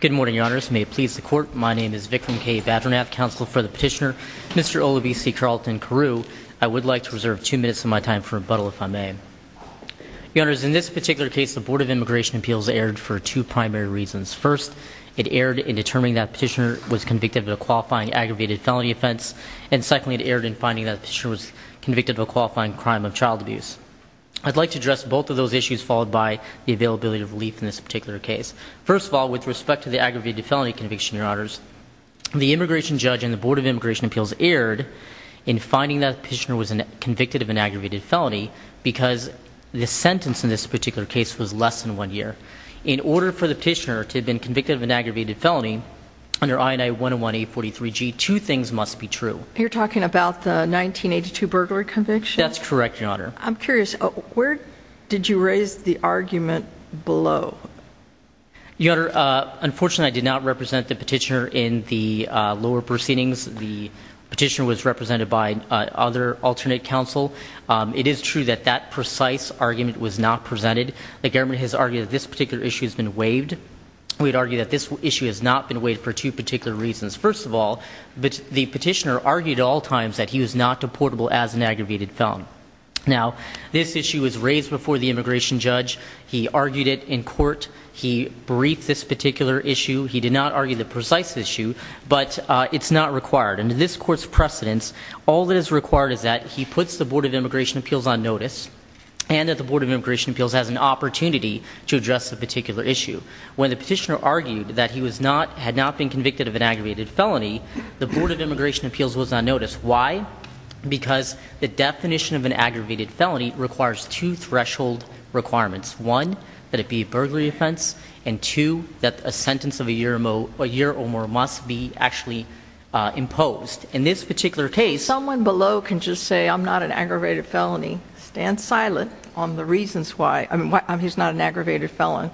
Good morning, Your Honors. May it please the Court, my name is Vikram K. Vadranath, Counsel for the Petitioner, Mr. Olabisi Carlton-Carew. I would like to reserve two minutes of my time for rebuttal, if I may. Your Honors, in this particular case, the Board of Immigration Appeals erred for two primary reasons. First, it erred in determining that the petitioner was convicted of a qualifying aggravated felony offense, and secondly, it erred in finding that the petitioner was convicted of a qualifying crime of child abuse. I'd like to address both of those issues, followed by the availability of relief in this particular case. First of all, with respect to the aggravated felony conviction, Your Honors, the immigration judge and the Board of Immigration Appeals erred in finding that the petitioner was convicted of an aggravated felony because the sentence in this particular case was less than one year. In order for the petitioner to have been convicted of an aggravated felony under I&I 101-A43G, two things must be true. You're talking about the 1982 burglar conviction? That's correct, Your Honor. I'm curious, where did you raise the argument below? Your Honor, unfortunately, I did not represent the petitioner in the lower proceedings. The petitioner was represented by other alternate counsel. It is true that that precise argument was not presented. The government has argued that this particular issue has been waived. We'd argue that this issue has not been waived for two particular reasons. First of all, the petitioner argued at all times that he was not deportable as an aggravated felon. Now, this issue was raised before the immigration judge. He argued it in court. He briefed this particular issue. He did not argue the precise issue, but it's not required. Under this court's precedence, all that is required is that he puts the Board of Immigration Appeals on notice and that the Board of Immigration Appeals has an opportunity to address the particular issue. When the petitioner argued that he had not been convicted of an aggravated felony, the Board of Immigration Appeals was on notice. Why? Because the definition of an aggravated felony requires two threshold requirements. One, that it be a burglary offense, and two, that a sentence of a year or more must be actually imposed. In this particular case... Someone below can just say, I'm not an aggravated felony, stand silent on the reasons why he's not an aggravated felon,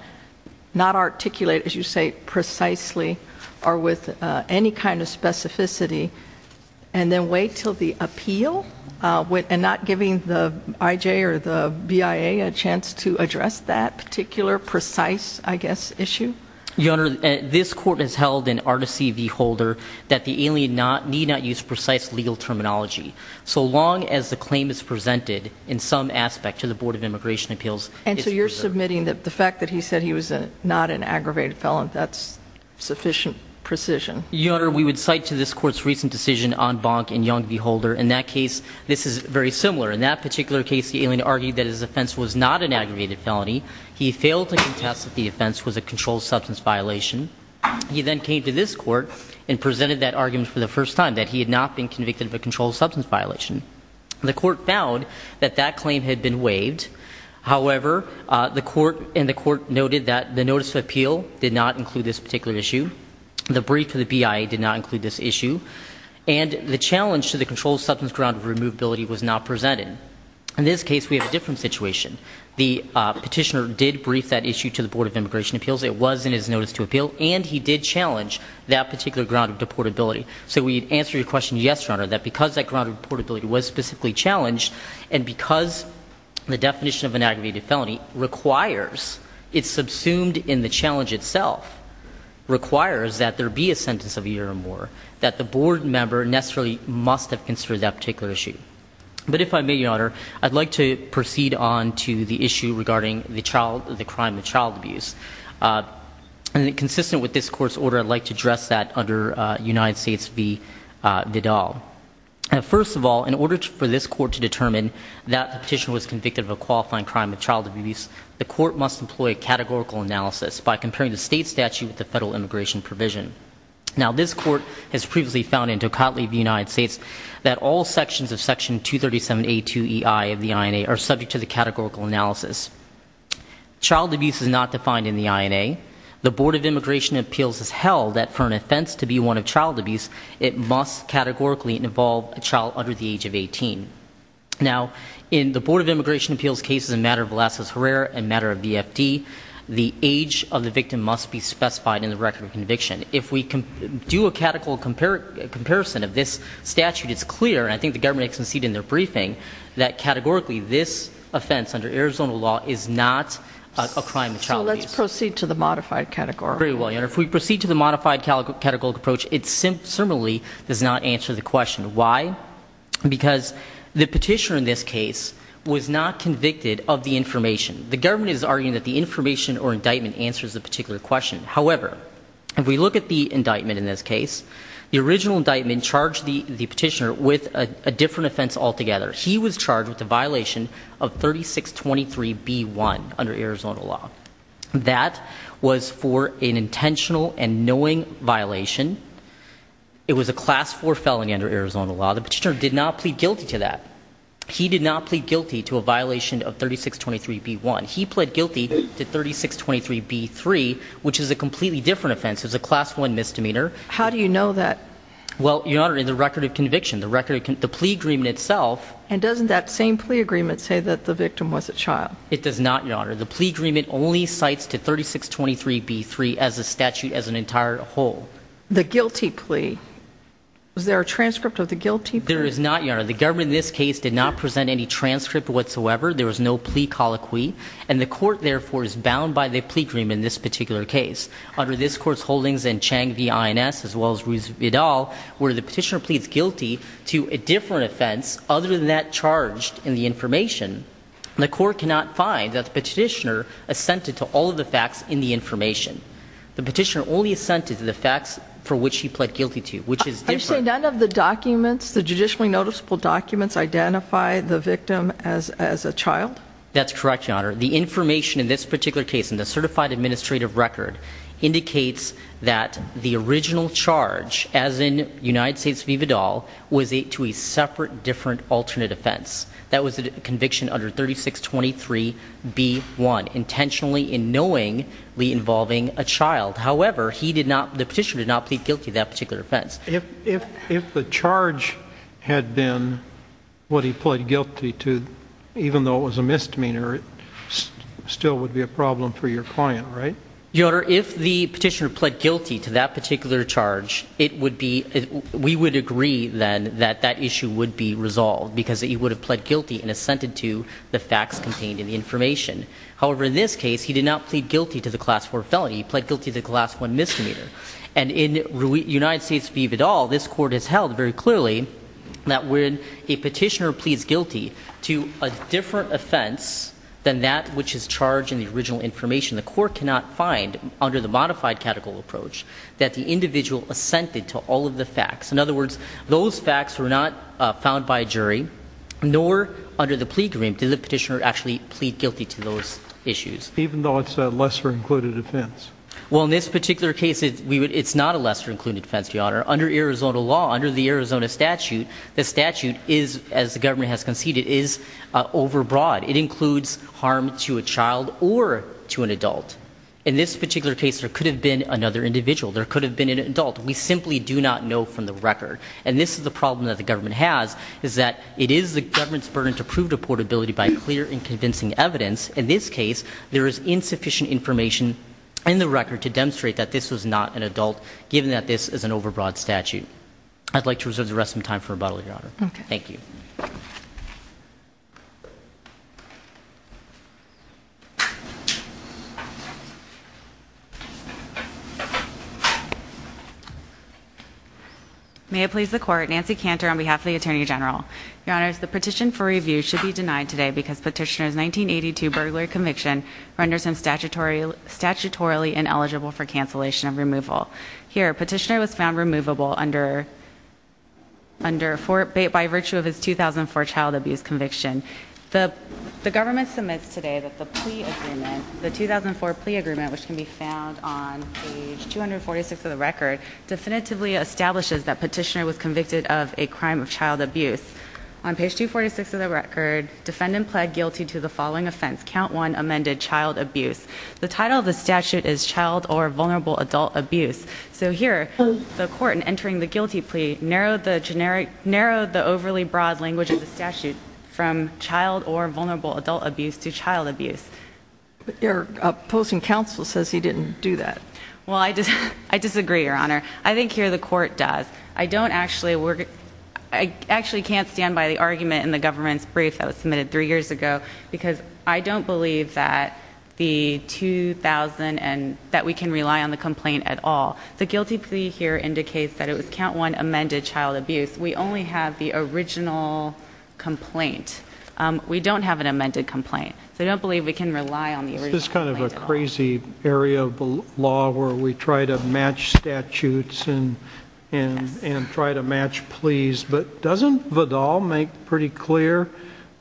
not articulate, as you say, precisely or with any kind of specificity, and then wait until the appeal, and not giving the IJ or the BIA a chance to address that particular precise, I guess, issue? Your Honor, this court has held in articy v. Holder that the alien need not use precise legal terminology. So long as the claim is presented in some aspect to the Board of Immigration Appeals, it's preserved. And so you're submitting that the fact that he said he was not an aggravated felon, that's sufficient precision? Your Honor, we would cite to this court's recent decision on Bonk and Young v. Holder. In that case, this is very similar. In that particular case, the alien argued that his offense was not an aggravated felony. He failed to contest that the offense was a controlled substance violation. He then came to this court and presented that argument for the first time, that he had not been convicted of a controlled substance violation. The court found that that claim had been waived. However, the court noted that the notice of appeal did not include this particular issue. The brief of the BIA did not include this issue. And the challenge to the controlled substance ground of removability was not presented. In this case, we have a different situation. The petitioner did brief that issue to the Board of Immigration Appeals. It was in his notice to appeal. And he did challenge that particular ground of deportability. So we answer your question, yes, Your Honor, that because that ground of deportability was specifically challenged, and because the definition of an aggravated felony requires, it's subsumed in the challenge itself, requires that there be a sentence of a year or more, that the board member necessarily must have considered that particular issue. But if I may, Your Honor, I'd like to proceed on to the issue regarding the crime of child abuse. Consistent with this court's order, I'd like to address that under United States v. Vidal. First of all, in order for this court to determine that the petitioner was convicted of a qualifying crime of child abuse, the court must employ a categorical analysis by comparing the state statute with the federal immigration provision. Now, this court has previously found in Tocatli v. United States that all sections of Section 237A2EI of the INA are subject to the categorical analysis. Child abuse is not defined in the INA. The Board of Immigration Appeals has held that for an offense to be one of child abuse, it must categorically involve a child under the age of 18. Now, in the Board of Immigration Appeals cases in the matter of Velazquez Herrera and the matter of BFD, the age of the victim must be specified in the record of conviction. If we do a categorical comparison of this statute, it's clear, and I think the government has conceded in their briefing, that categorically this offense under Arizona law is not a crime of child abuse. So let's proceed to the modified category. Very well, Your Honor. If we proceed to the modified categorical approach, it similarly does not answer the question. Why? Because the petitioner in this case was not convicted of the information. The government is arguing that the information or indictment answers the particular question. However, if we look at the indictment in this case, the original indictment charged the petitioner with a different offense altogether. He was charged with the violation of 3623B1 under Arizona law. That was for an intentional and knowing violation. It was a class 4 felony under Arizona law. The petitioner did not plead guilty to that. He did not plead guilty to a violation of 3623B1. He pled guilty to 3623B3, which is a completely different offense. It was a class 1 misdemeanor. How do you know that? Well, Your Honor, in the record of conviction, the plea agreement itself. And doesn't that same plea agreement say that the victim was a child? It does not, Your Honor. The plea agreement only cites to 3623B3 as a statute as an entire whole. The guilty plea. Was there a transcript of the guilty plea? There is not, Your Honor. The government in this case did not present any transcript whatsoever. There was no plea colloquy. And the court, therefore, is bound by the plea agreement in this particular case. Under this court's holdings and Chang v. INS as well as Ruth Vidal, where the petitioner pleads guilty to a different offense other than that charged in the information, the court cannot find that the petitioner assented to all of the facts in the information. The petitioner only assented to the facts for which he pled guilty to, which is different. Are you saying none of the documents, the judicially noticeable documents, identify the victim as a child? That's correct, Your Honor. The information in this particular case in the certified administrative record indicates that the original charge, as in United States v. Vidal, was to a separate, different, alternate offense. That was a conviction under 3623B1, intentionally and knowingly involving a child. However, he did not, the petitioner did not plead guilty to that particular offense. If the charge had been what he pled guilty to, even though it was a misdemeanor, it still would be a problem for your client, right? Your Honor, if the petitioner pled guilty to that particular charge, it would be, we would agree then that that issue would be resolved because he would have pled guilty and assented to the facts contained in the information. However, in this case, he did not plead guilty to the Class IV felony. He pled guilty to the Class I misdemeanor. And in United States v. Vidal, this court has held very clearly that when a petitioner pleads guilty to a different offense than that which is charged in the original information, the court cannot find, under the modified catechol approach, that the individual assented to all of the facts. In other words, those facts were not found by a jury, nor under the plea agreement did the petitioner actually plead guilty to those issues. Even though it's a lesser-included offense? Well, in this particular case, it's not a lesser-included offense, Your Honor. Under Arizona law, under the Arizona statute, the statute is, as the government has conceded, is overbroad. It includes harm to a child or to an adult. In this particular case, there could have been another individual. There could have been an adult. We simply do not know from the record. And this is the problem that the government has, is that it is the government's burden to prove deportability by clear and convincing evidence. In this case, there is insufficient information in the record to demonstrate that this was not an adult, given that this is an overbroad statute. I'd like to reserve the rest of my time for rebuttal, Your Honor. Okay. Thank you. May it please the Court, Nancy Cantor on behalf of the Attorney General. Your Honors, the petition for review should be denied today because Petitioner's 1982 burglary conviction renders him statutorily ineligible for cancellation of removal. Here, Petitioner was found removable by virtue of his 2004 child abuse conviction. The government submits today that the plea agreement, the 2004 plea agreement, which can be found on page 246 of the record, definitively establishes that Petitioner was convicted of a crime of child abuse. On page 246 of the record, defendant pled guilty to the following offense, count one, amended child abuse. The title of the statute is child or vulnerable adult abuse. So here, the Court, in entering the guilty plea, narrowed the overly broad language of the statute from child or vulnerable adult abuse to child abuse. But your opposing counsel says he didn't do that. Well, I disagree, Your Honor. I think here the Court does. I actually can't stand by the argument in the government's brief that was submitted three years ago because I don't believe that we can rely on the complaint at all. The guilty plea here indicates that it was count one, amended child abuse. We only have the original complaint. We don't have an amended complaint. So I don't believe we can rely on the original complaint at all. This is kind of a crazy area of the law where we try to match statutes and try to match pleas. But doesn't Vidal make pretty clear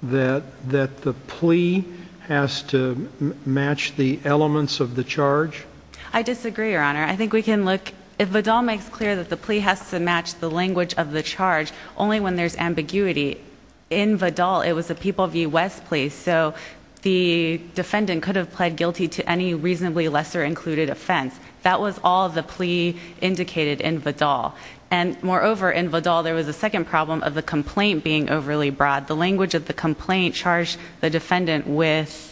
that the plea has to match the elements of the charge? I disagree, Your Honor. I think we can look. If Vidal makes clear that the plea has to match the language of the charge, only when there's ambiguity. In Vidal, it was a People v. West plea. So the defendant could have pled guilty to any reasonably lesser included offense. That was all the plea indicated in Vidal. And moreover, in Vidal, there was a second problem of the complaint being overly broad. The language of the complaint charged the defendant with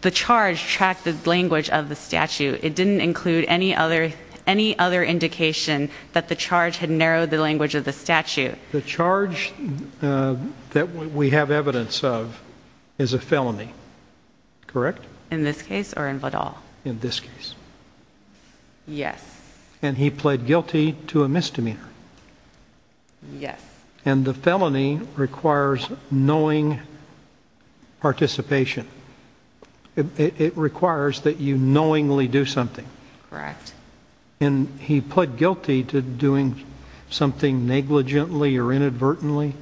the charge tracked the language of the statute. It didn't include any other indication that the charge had narrowed the language of the statute. The charge that we have evidence of is a felony. Correct? In this case or in Vidal? In this case. Yes. And he pled guilty to a misdemeanor. Yes. And the felony requires knowing participation. It requires that you knowingly do something. Correct. And he pled guilty to doing something negligently or inadvertently.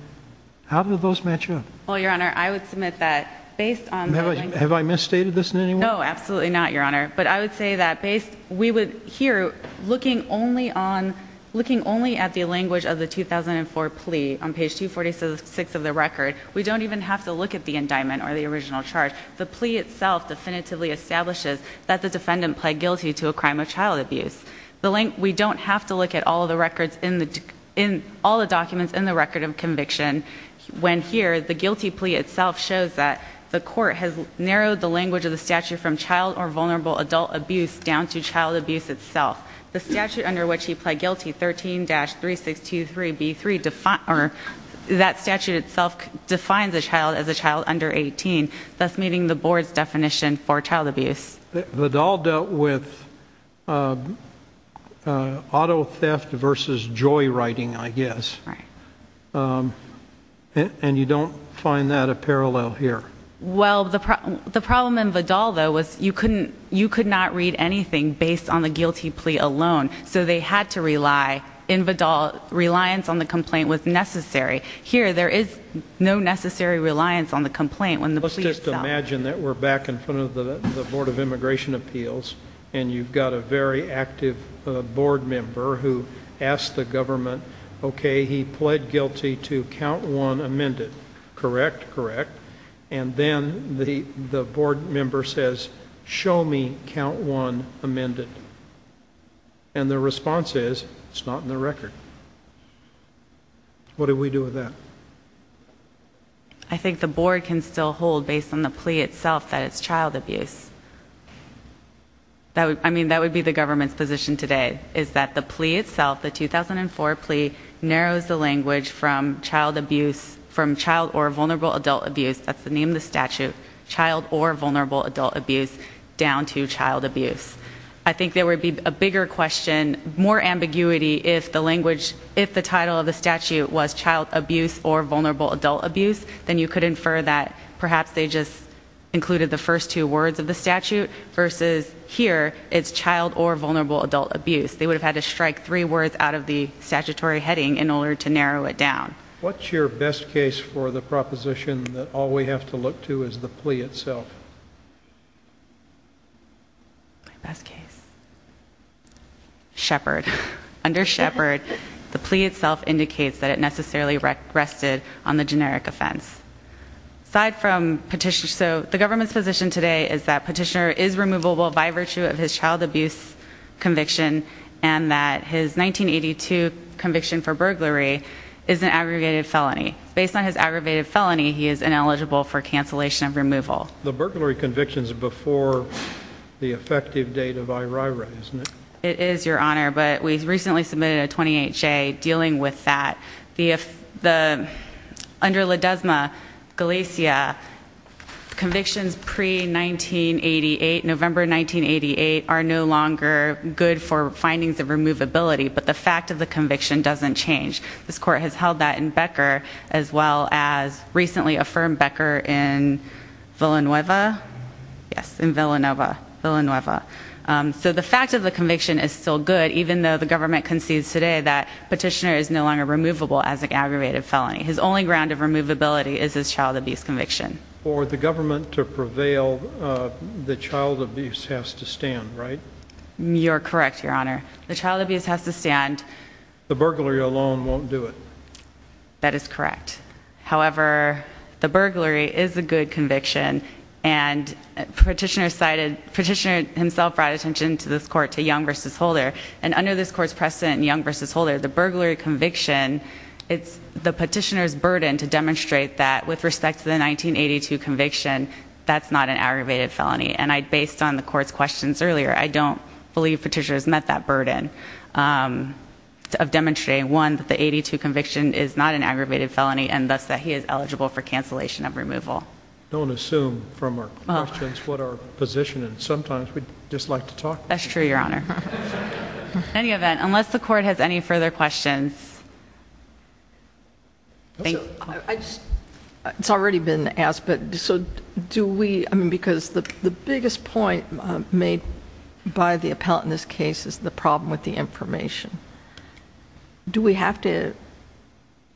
How do those match up? Well, Your Honor, I would submit that based on the language of the 2004 plea. Have I misstated this in any way? No, absolutely not, Your Honor. But I would say that we would here, looking only at the language of the 2004 plea on page 246 of the record, we don't even have to look at the indictment or the original charge. The plea itself definitively establishes that the defendant pled guilty to a crime of child abuse. We don't have to look at all the documents in the record of conviction when here, the guilty plea itself shows that the court has narrowed the language of the statute from child or vulnerable adult abuse down to child abuse itself. The statute under which he pled guilty, 13-3623B3, that statute itself defines a child as a child under 18, thus meeting the board's definition for child abuse. Vidal dealt with auto theft versus joyriding, I guess. Right. And you don't find that a parallel here? Well, the problem in Vidal, though, was you could not read anything based on the guilty plea alone, so they had to rely, in Vidal, reliance on the complaint was necessary. Here, there is no necessary reliance on the complaint when the plea itself. Let's just imagine that we're back in front of the Board of Immigration Appeals and you've got a very active board member who asked the government, okay, he pled guilty to count one amended. Correct? Correct. And then the board member says, show me count one amended. And the response is, it's not in the record. What do we do with that? I think the board can still hold, based on the plea itself, that it's child abuse. I mean, that would be the government's position today, is that the plea itself, the 2004 plea, narrows the language from child abuse, from child or vulnerable adult abuse, that's the name of the statute, child or vulnerable adult abuse, down to child abuse. I think there would be a bigger question, more ambiguity, if the title of the statute was child abuse or vulnerable adult abuse, then you could infer that perhaps they just included the first two words of the statute, versus here, it's child or vulnerable adult abuse. They would have had to strike three words out of the statutory heading in order to narrow it down. What's your best case for the proposition that all we have to look to is the plea itself? My best case? Shepard. Under Shepard, the plea itself indicates that it necessarily rested on the generic offense. Aside from petitioner, so the government's position today is that petitioner is removable by virtue of his child abuse conviction, and that his 1982 conviction for burglary is an aggravated felony. Based on his aggravated felony, he is ineligible for cancellation of removal. The burglary conviction is before the effective date of IRIRA, isn't it? It is, Your Honor, but we recently submitted a 20HA dealing with that. Under Ledesma-Galicia, convictions pre-1988, November 1988, are no longer good for findings of removability, but the fact of the conviction doesn't change. This court has held that in Becker as well as recently affirmed Becker in Villanueva. Yes, in Villanova. Villanueva. So the fact of the conviction is still good, even though the government concedes today that petitioner is no longer removable as an aggravated felony. His only ground of removability is his child abuse conviction. For the government to prevail, the child abuse has to stand, right? You're correct, Your Honor. The child abuse has to stand. The burglary alone won't do it. That is correct. However, the burglary is a good conviction, and petitioner himself brought attention to this court, to Young v. Holder, and under this court's precedent in Young v. Holder, the burglary conviction, it's the petitioner's burden to demonstrate that with respect to the 1982 conviction, that's not an aggravated felony. And based on the court's questions earlier, I don't believe petitioner has met that burden. Of demonstrating, one, that the 82 conviction is not an aggravated felony, and thus that he is eligible for cancellation of removal. Don't assume from our questions what our position is. Sometimes we just like to talk. That's true, Your Honor. In any event, unless the court has any further questions. It's already been asked, but do we, because the biggest point made by the appellant in this case is the problem with the information. Do we have to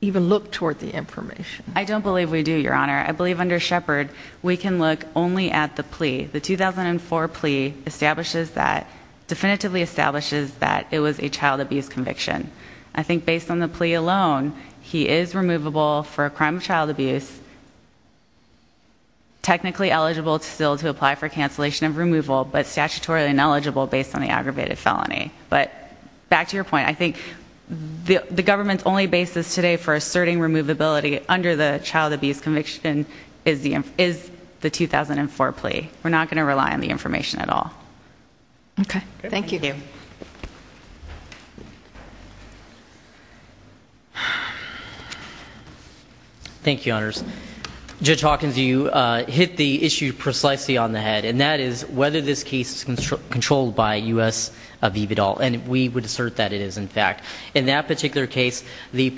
even look toward the information? I don't believe we do, Your Honor. I believe under Shepard, we can look only at the plea. The 2004 plea establishes that, definitively establishes that it was a child abuse conviction. I think based on the plea alone, he is removable for a crime of child abuse. Technically eligible still to apply for cancellation of removal, but statutorily ineligible based on the aggravated felony. But back to your point, I think the government's only basis today for asserting removability under the child abuse conviction is the 2004 plea. We're not going to rely on the information at all. Okay. Thank you. Thank you, Your Honor. Judge Hawkins, you hit the issue precisely on the head, and that is whether this case is controlled by U.S. Aviv et al. And we would assert that it is, in fact. In that particular case, the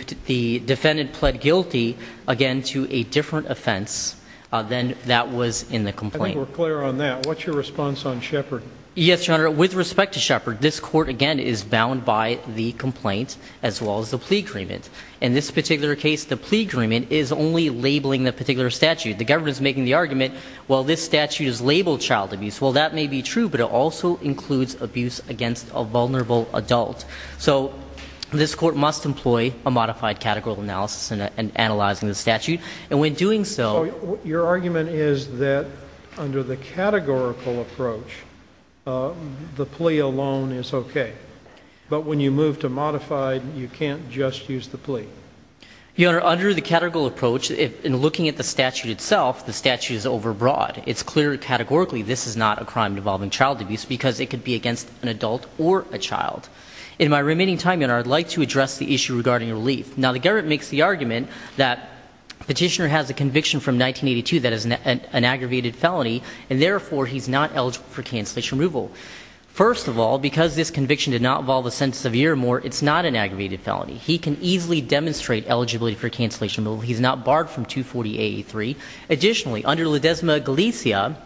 defendant pled guilty, again, to a different offense than that was in the complaint. I think we're clear on that. What's your response on Shepard? Yes, Your Honor. With respect to Shepard, this court, again, is bound by the complaint as well as the plea agreement. In this particular case, the plea agreement is only labeling the particular statute. The government is making the argument, well, this statute is labeled child abuse. Well, that may be true, but it also includes abuse against a vulnerable adult. So this court must employ a modified categorical analysis in analyzing the statute. So your argument is that under the categorical approach, the plea alone is okay. But when you move to modified, you can't just use the plea. Your Honor, under the categorical approach, in looking at the statute itself, the statute is overbroad. It's clear categorically this is not a crime involving child abuse because it could be against an adult or a child. In my remaining time, Your Honor, I'd like to address the issue regarding relief. Now, the government makes the argument that Petitioner has a conviction from 1982 that is an aggravated felony, and therefore he's not eligible for cancellation removal. First of all, because this conviction did not involve a sentence of a year or more, it's not an aggravated felony. He can easily demonstrate eligibility for cancellation removal. He's not barred from 240-883. Additionally, under La Desma Galicia,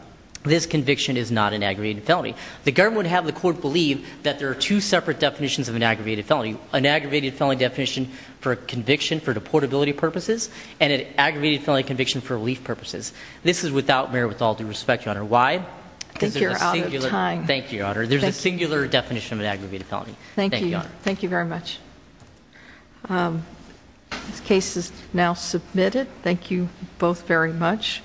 this conviction is not an aggravated felony. The government would have the court believe that there are two separate definitions of an aggravated felony, an aggravated felony definition for conviction for deportability purposes, and an aggravated felony conviction for relief purposes. This is without merit with all due respect, Your Honor. Why? I think you're out of time. Thank you, Your Honor. There's a singular definition of an aggravated felony. Thank you. Thank you very much. This case is now submitted. Thank you both very much.